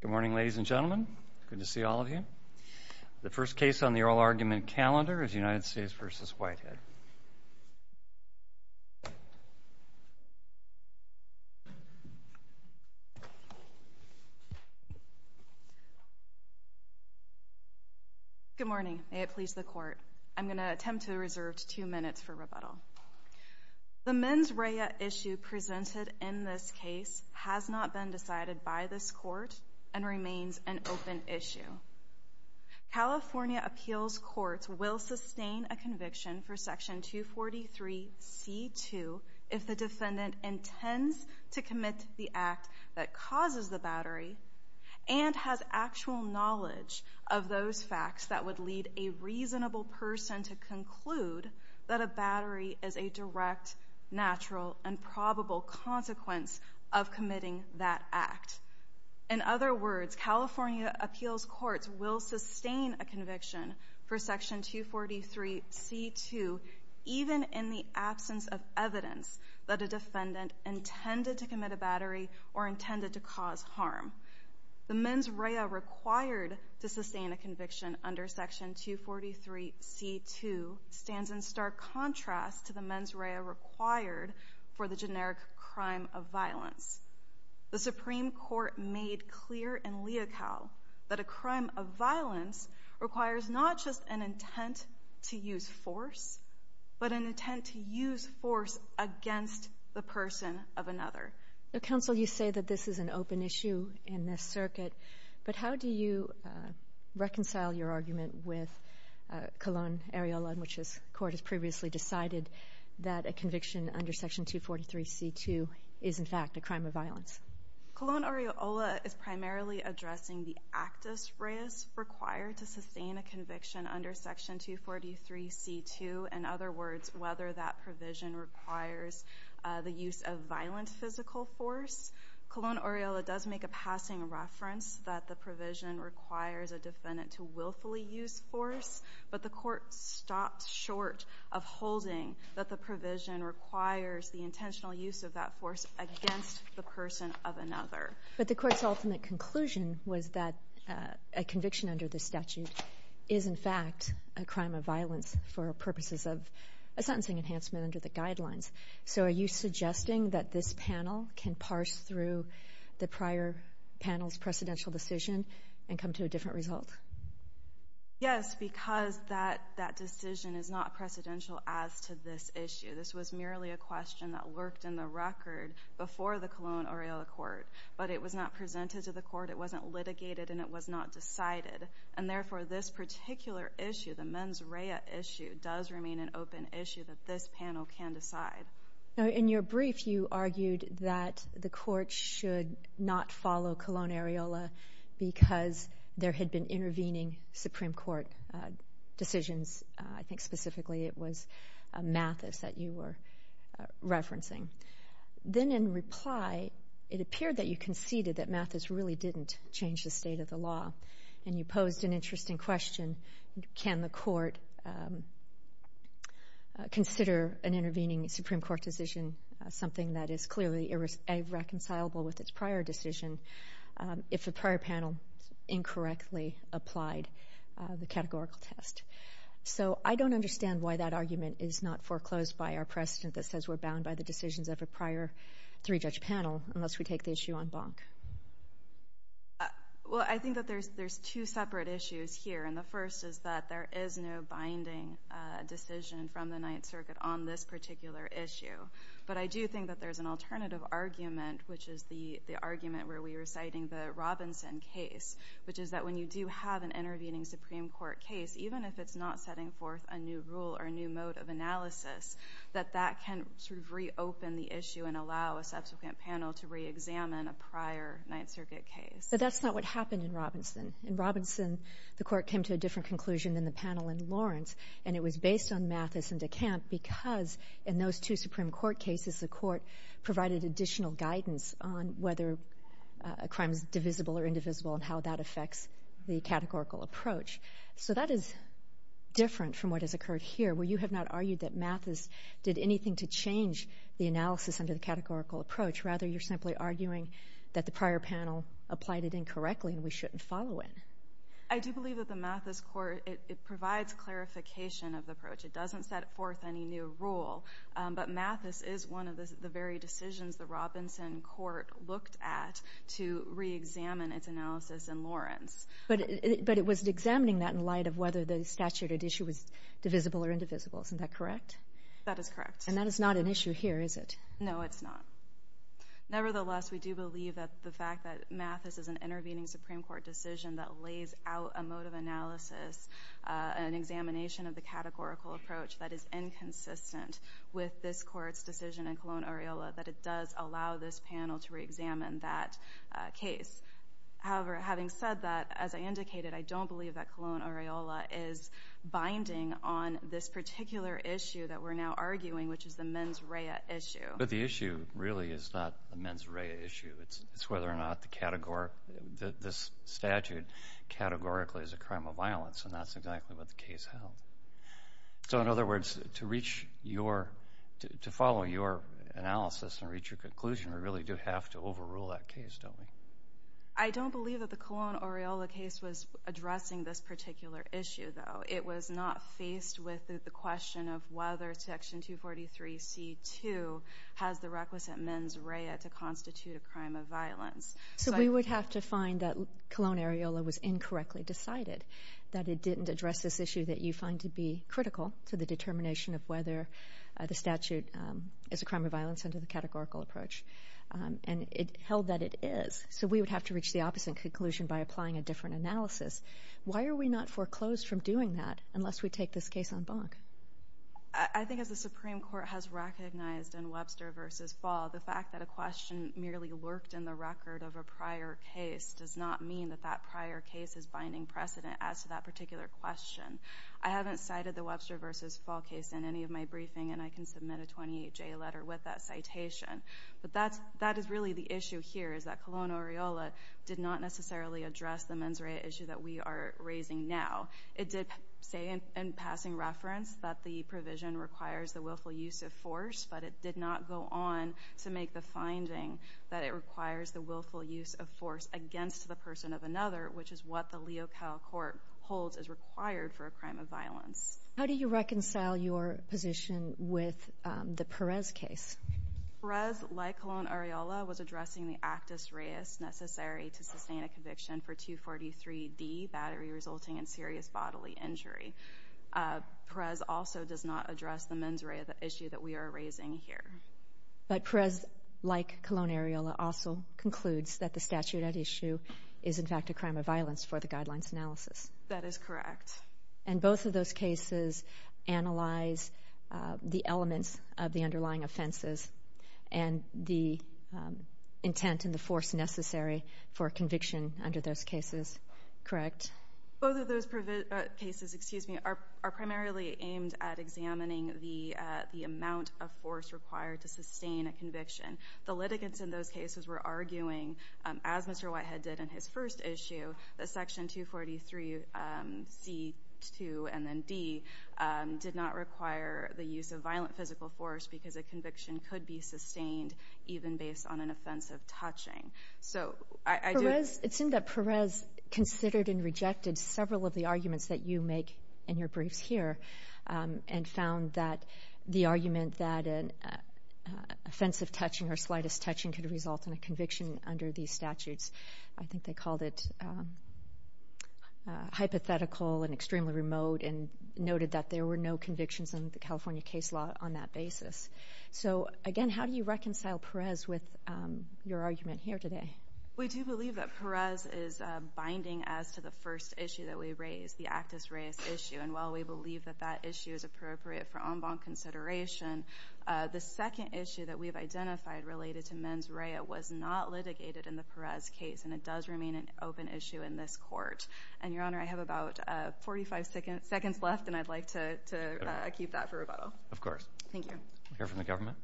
Good morning, ladies and gentlemen. Good to see all of you. The first case on the oral argument calendar is United States v. Whitehead. Good morning. May it please the Court. I'm going to attempt to reserve two minutes for rebuttal. The mens rea issue presented in this case has not been decided by this Court and remains an open issue. California appeals courts will sustain a conviction for Section 243c2 if the defendant intends to commit the act that causes the battery and has actual knowledge of those facts that would lead a reasonable person to conclude that a battery is a direct, natural, and probable consequence of committing that act. In other words, California appeals courts will sustain a conviction for Section 243c2 even in the absence of evidence that a defendant intended to commit a battery or intended to cause harm. The mens rea required to sustain a conviction under Section 243c2 stands in stark contrast to the mens rea required for the generic crime of violence. The Supreme Court made clear in Leocal that a crime of violence requires not just an intent to use force, but an intent to use force against the person of another. Counsel, you say that this is an open issue in this circuit, but how do you reconcile your argument with Colón-Ariola, which this Court has previously decided that a conviction under Section 243c2 is, in fact, a crime of violence? Colón-Ariola is primarily addressing the actus reus required to sustain a conviction under Section 243c2. In other words, whether that provision requires the use of violent physical force. Colón-Ariola does make a passing reference that the provision requires a defendant to willfully use force, but the Court stopped short of holding that the provision requires the intentional use of that force against the person of another. But the Court's ultimate conclusion was that a conviction under this statute is, in fact, a crime of violence for purposes of a sentencing enhancement under the guidelines. So are you suggesting that this panel can parse through the prior panel's precedential decision and come to a different result? Yes, because that decision is not precedential as to this issue. This was merely a question that lurked in the record before the Colón-Ariola Court, but it was not presented to the Court, it wasn't litigated, and it was not decided. And therefore, this particular issue, the mens rea issue, does remain an open issue that this panel can decide. Now, in your brief, you argued that the Court should not follow Colón-Ariola because there had been intervening Supreme Court decisions. I think specifically it was Mathis that you were referencing. Then in reply, it appeared that you conceded that Mathis really didn't change the state of the law, and you posed an interesting question. Can the Court consider an intervening Supreme Court decision something that is clearly irreconcilable with its prior decision if the prior panel incorrectly applied the categorical test? So I don't understand why that argument is not foreclosed by our precedent that says we're bound by the decisions of a prior three-judge panel unless we take the issue en banc. Well, I think that there's two separate issues here, and the first is that there is no binding decision from the Ninth Circuit on this particular issue. But I do think that there's an alternative argument, which is the argument where we were citing the Robinson case, which is that when you do have an intervening Supreme Court case, even if it's not setting forth a new rule or a new mode of analysis, that that can sort of reopen the issue and allow a subsequent panel to reexamine a prior Ninth Circuit case. But that's not what happened in Robinson. In Robinson, the Court came to a different conclusion than the panel in Lawrence, and it was based on Mathis and DeCamp because in those two Supreme Court cases, the Court provided additional guidance on whether a crime is divisible or indivisible and how that affects the categorical approach. So that is different from what has occurred here, where you have not argued that Mathis did anything to change the analysis under the categorical approach. Rather, you're simply arguing that the prior panel applied it incorrectly and we shouldn't follow it. I do believe that the Mathis Court, it provides clarification of the approach. It doesn't set forth any new rule. But Mathis is one of the very decisions the Robinson Court looked at to reexamine its analysis in Lawrence. But it was examining that in light of whether the statutory issue was divisible or indivisible. Isn't that correct? That is correct. And that is not an issue here, is it? No, it's not. Nevertheless, we do believe that the fact that Mathis is an intervening Supreme Court decision that lays out a mode of analysis, an examination of the categorical approach that is inconsistent with this Court's decision in Colón-Ariola, that it does allow this panel to reexamine that case. However, having said that, as I indicated, I don't believe that Colón-Ariola is binding on this particular issue that we're now arguing, which is the mens rea issue. But the issue really is not the mens rea issue. It's whether or not this statute categorically is a crime of violence, and that's exactly what the case held. So in other words, to follow your analysis and reach your conclusion, we really do have to overrule that case, don't we? I don't believe that the Colón-Ariola case was addressing this particular issue, though. It was not faced with the question of whether Section 243c.2 has the requisite mens rea to constitute a crime of violence. So we would have to find that Colón-Ariola was incorrectly decided, that it didn't address this issue that you find to be critical to the determination of whether the statute is a crime of violence under the categorical approach. And it held that it is, so we would have to reach the opposite conclusion by applying a different analysis. Why are we not foreclosed from doing that unless we take this case en banc? I think as the Supreme Court has recognized in Webster v. Fall, the fact that a question merely lurked in the record of a prior case does not mean that that prior case is binding precedent as to that particular question. I haven't cited the Webster v. Fall case in any of my briefing, and I can submit a 28-J letter with that citation. But that is really the issue here, is that Colón-Ariola did not necessarily address the mens rea issue that we are raising now. It did say in passing reference that the provision requires the willful use of force, but it did not go on to make the finding that it requires the willful use of force against the person of another, which is what the Leocal Court holds is required for a crime of violence. How do you reconcile your position with the Perez case? Perez, like Colón-Ariola, was addressing the actus reus necessary to sustain a conviction for 243D, battery resulting in serious bodily injury. Perez also does not address the mens rea issue that we are raising here. But Perez, like Colón-Ariola, also concludes that the statute at issue is in fact a crime of violence for the guidelines analysis. That is correct. And both of those cases analyze the elements of the underlying offenses and the intent and the force necessary for conviction under those cases, correct? Both of those cases are primarily aimed at examining the amount of force required to sustain a conviction. The litigants in those cases were arguing, as Mr. Whitehead did in his first issue, that Section 243C-2 and then D did not require the use of violent physical force because a conviction could be sustained even based on an offensive touching. Perez considered and rejected several of the arguments that you make in your briefs here and found that the argument that an offensive touching or slightest touching could result in a conviction under these statutes. I think they called it hypothetical and extremely remote and noted that there were no convictions in the California case law on that basis. So, again, how do you reconcile Perez with your argument here today? We do believe that Perez is binding as to the first issue that we raised, the actus reus issue. And while we believe that that issue is appropriate for en banc consideration, the second issue that we've identified related to mens rea was not litigated in the Perez case, and it does remain an open issue in this court. And, Your Honor, I have about 45 seconds left, and I'd like to keep that for rebuttal. Of course. We'll hear from the government.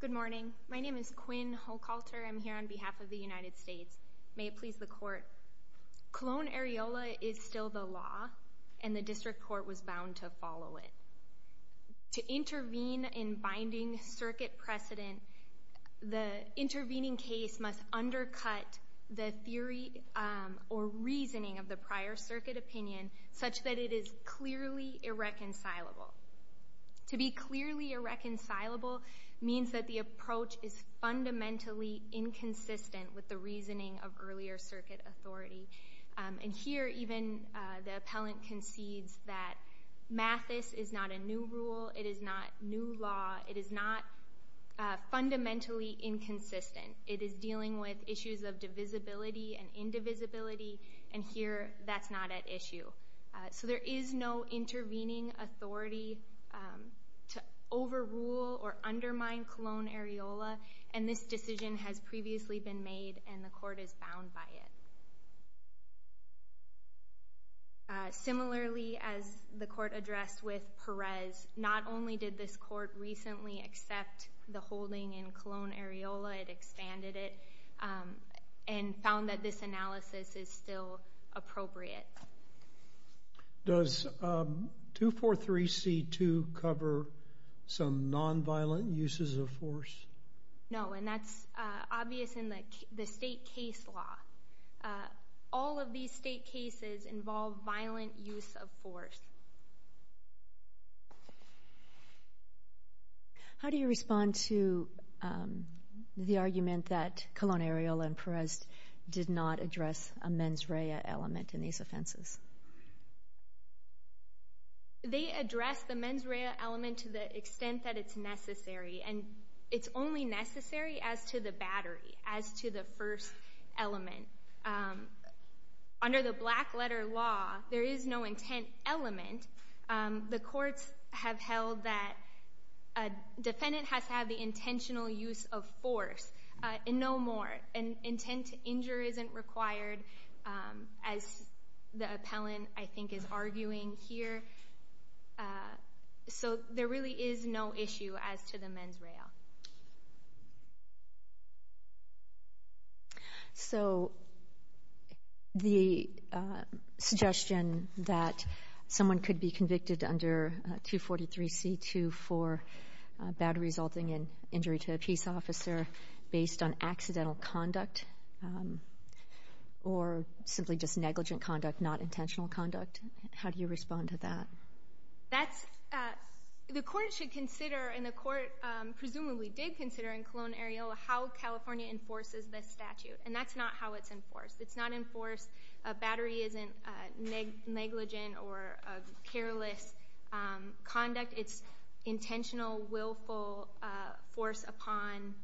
Good morning. My name is Quinn Hochalter. I'm here on behalf of the United States. May it please the Court. Colon-Areola is still the law, and the district court was bound to follow it. To intervene in binding circuit precedent, the intervening case must undercut the theory or reasoning of the prior circuit opinion such that it is clearly irreconcilable. To be clearly irreconcilable means that the approach is fundamentally inconsistent with the reasoning of earlier circuit authority. And here even the appellant concedes that Mathis is not a new rule, it is not new law, it is not fundamentally inconsistent. It is dealing with issues of divisibility and indivisibility, and here that's not at issue. So there is no intervening authority to overrule or undermine Colon-Areola, and this decision has previously been made and the court is bound by it. Similarly, as the court addressed with Perez, not only did this court recently accept the holding in Colon-Areola, it expanded it, and found that this analysis is still appropriate. Does 243C2 cover some nonviolent uses of force? No, and that's obvious in the state case law. All of these state cases involve violent use of force. How do you respond to the argument that Colon-Areola and Perez did not address a mens rea element in these offenses? They addressed the mens rea element to the extent that it's necessary, and it's only necessary as to the battery, as to the first element. Under the black-letter law, there is no intent element. The courts have held that a defendant has to have the intentional use of force, and no more. An intent to injure isn't required, as the appellant, I think, is arguing here. So there really is no issue as to the mens rea. So the suggestion that someone could be convicted under 243C2 for battery resulting in injury to a peace officer based on accidental conduct or simply just negligent conduct, not intentional conduct, how do you respond to that? The court should consider, and the court presumably did consider in Colon-Areola how California enforces this statute, and that's not how it's enforced. It's not enforced. A battery isn't negligent or careless conduct. It's intentional, willful force upon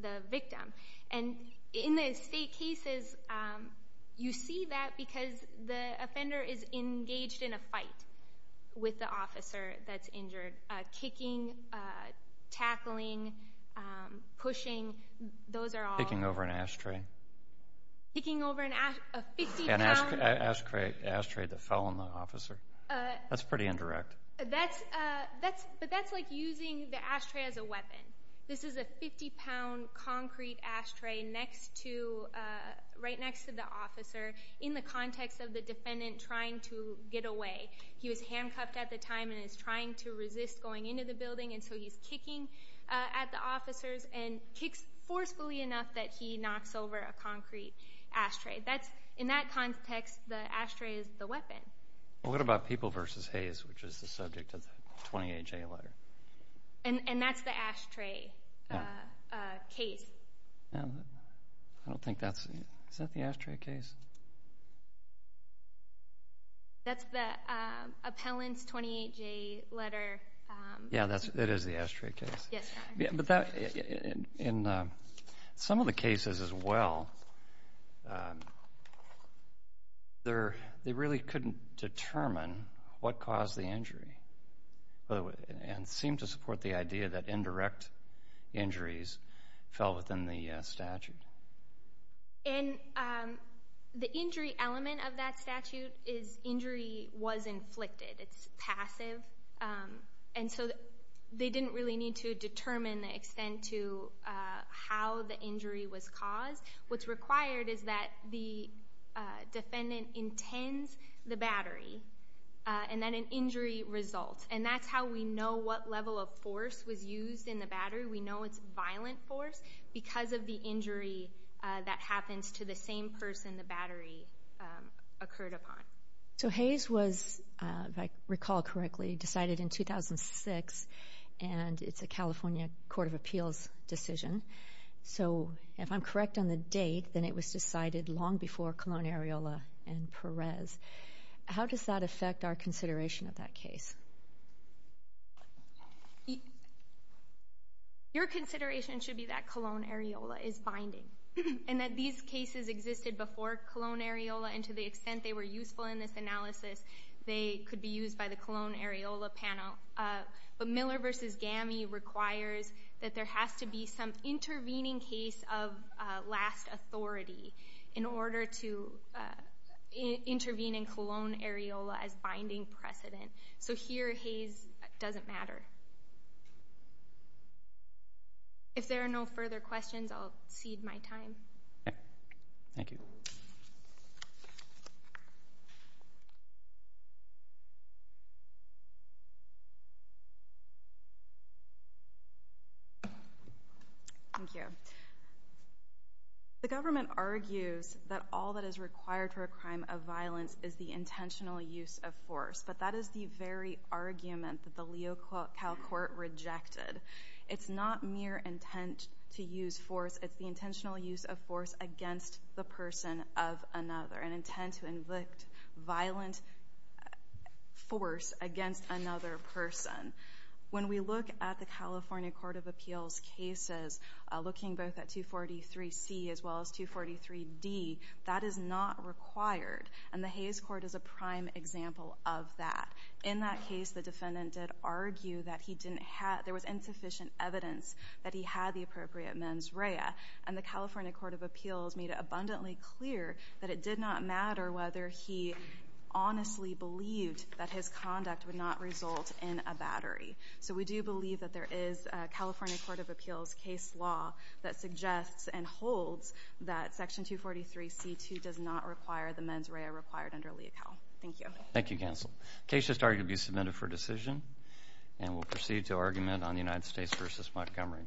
the victim. And in the state cases, you see that because the offender is engaged in a fight with the officer that's injured. Kicking, tackling, pushing, those are all. Kicking over an ashtray. Kicking over an ashtray, a 50-pound. An ashtray that fell on the officer. That's pretty indirect. But that's like using the ashtray as a weapon. This is a 50-pound concrete ashtray right next to the officer in the context of the defendant trying to get away. He was handcuffed at the time and is trying to resist going into the building, and so he's kicking at the officers and kicks forcefully enough that he knocks over a concrete ashtray. In that context, the ashtray is the weapon. What about people versus haze, which is the subject of the 28J letter? And that's the ashtray case. I don't think that's it. Is that the ashtray case? That's the appellant's 28J letter. Yeah, it is the ashtray case. But in some of the cases as well, they really couldn't determine what caused the injury. And seem to support the idea that indirect injuries fell within the statute. And the injury element of that statute is injury was inflicted. It's passive. And so they didn't really need to determine the extent to how the injury was caused. What's required is that the defendant intends the battery, and then an injury result. And that's how we know what level of force was used in the battery. We know it's violent force because of the injury that happens to the same person the battery occurred upon. So haze was, if I recall correctly, decided in 2006, and it's a California Court of Appeals decision. So if I'm correct on the date, then it was decided long before Colon, Areola, and Perez. How does that affect our consideration of that case? Your consideration should be that Colon, Areola is binding. And that these cases existed before Colon, Areola, and to the extent they were useful in this analysis, they could be used by the Colon, Areola panel. But Miller v. GAMI requires that there has to be some intervening case of last authority in order to intervene in Colon, Areola as binding precedent. So here, haze doesn't matter. If there are no further questions, I'll cede my time. Okay. Thank you. Thank you. Thank you. The government argues that all that is required for a crime of violence is the intentional use of force, but that is the very argument that the Leo Cal Court rejected. It's not mere intent to use force. It's the intentional use of force against the person of another, an intent to evict violent force against another person. When we look at the California Court of Appeals cases, looking both at 243C as well as 243D, that is not required. And the Hays Court is a prime example of that. In that case, the defendant did argue that he didn't have – there was insufficient evidence that he had the appropriate mens rea. And the California Court of Appeals made it abundantly clear that it did not matter whether he honestly believed that his conduct would not result in a battery. So we do believe that there is a California Court of Appeals case law that suggests and holds that Section 243C2 does not require the mens rea required under Leo Cal. Thank you. Thank you, counsel. The case has started to be submitted for decision, and we'll proceed to argument on the United States v. Montgomery.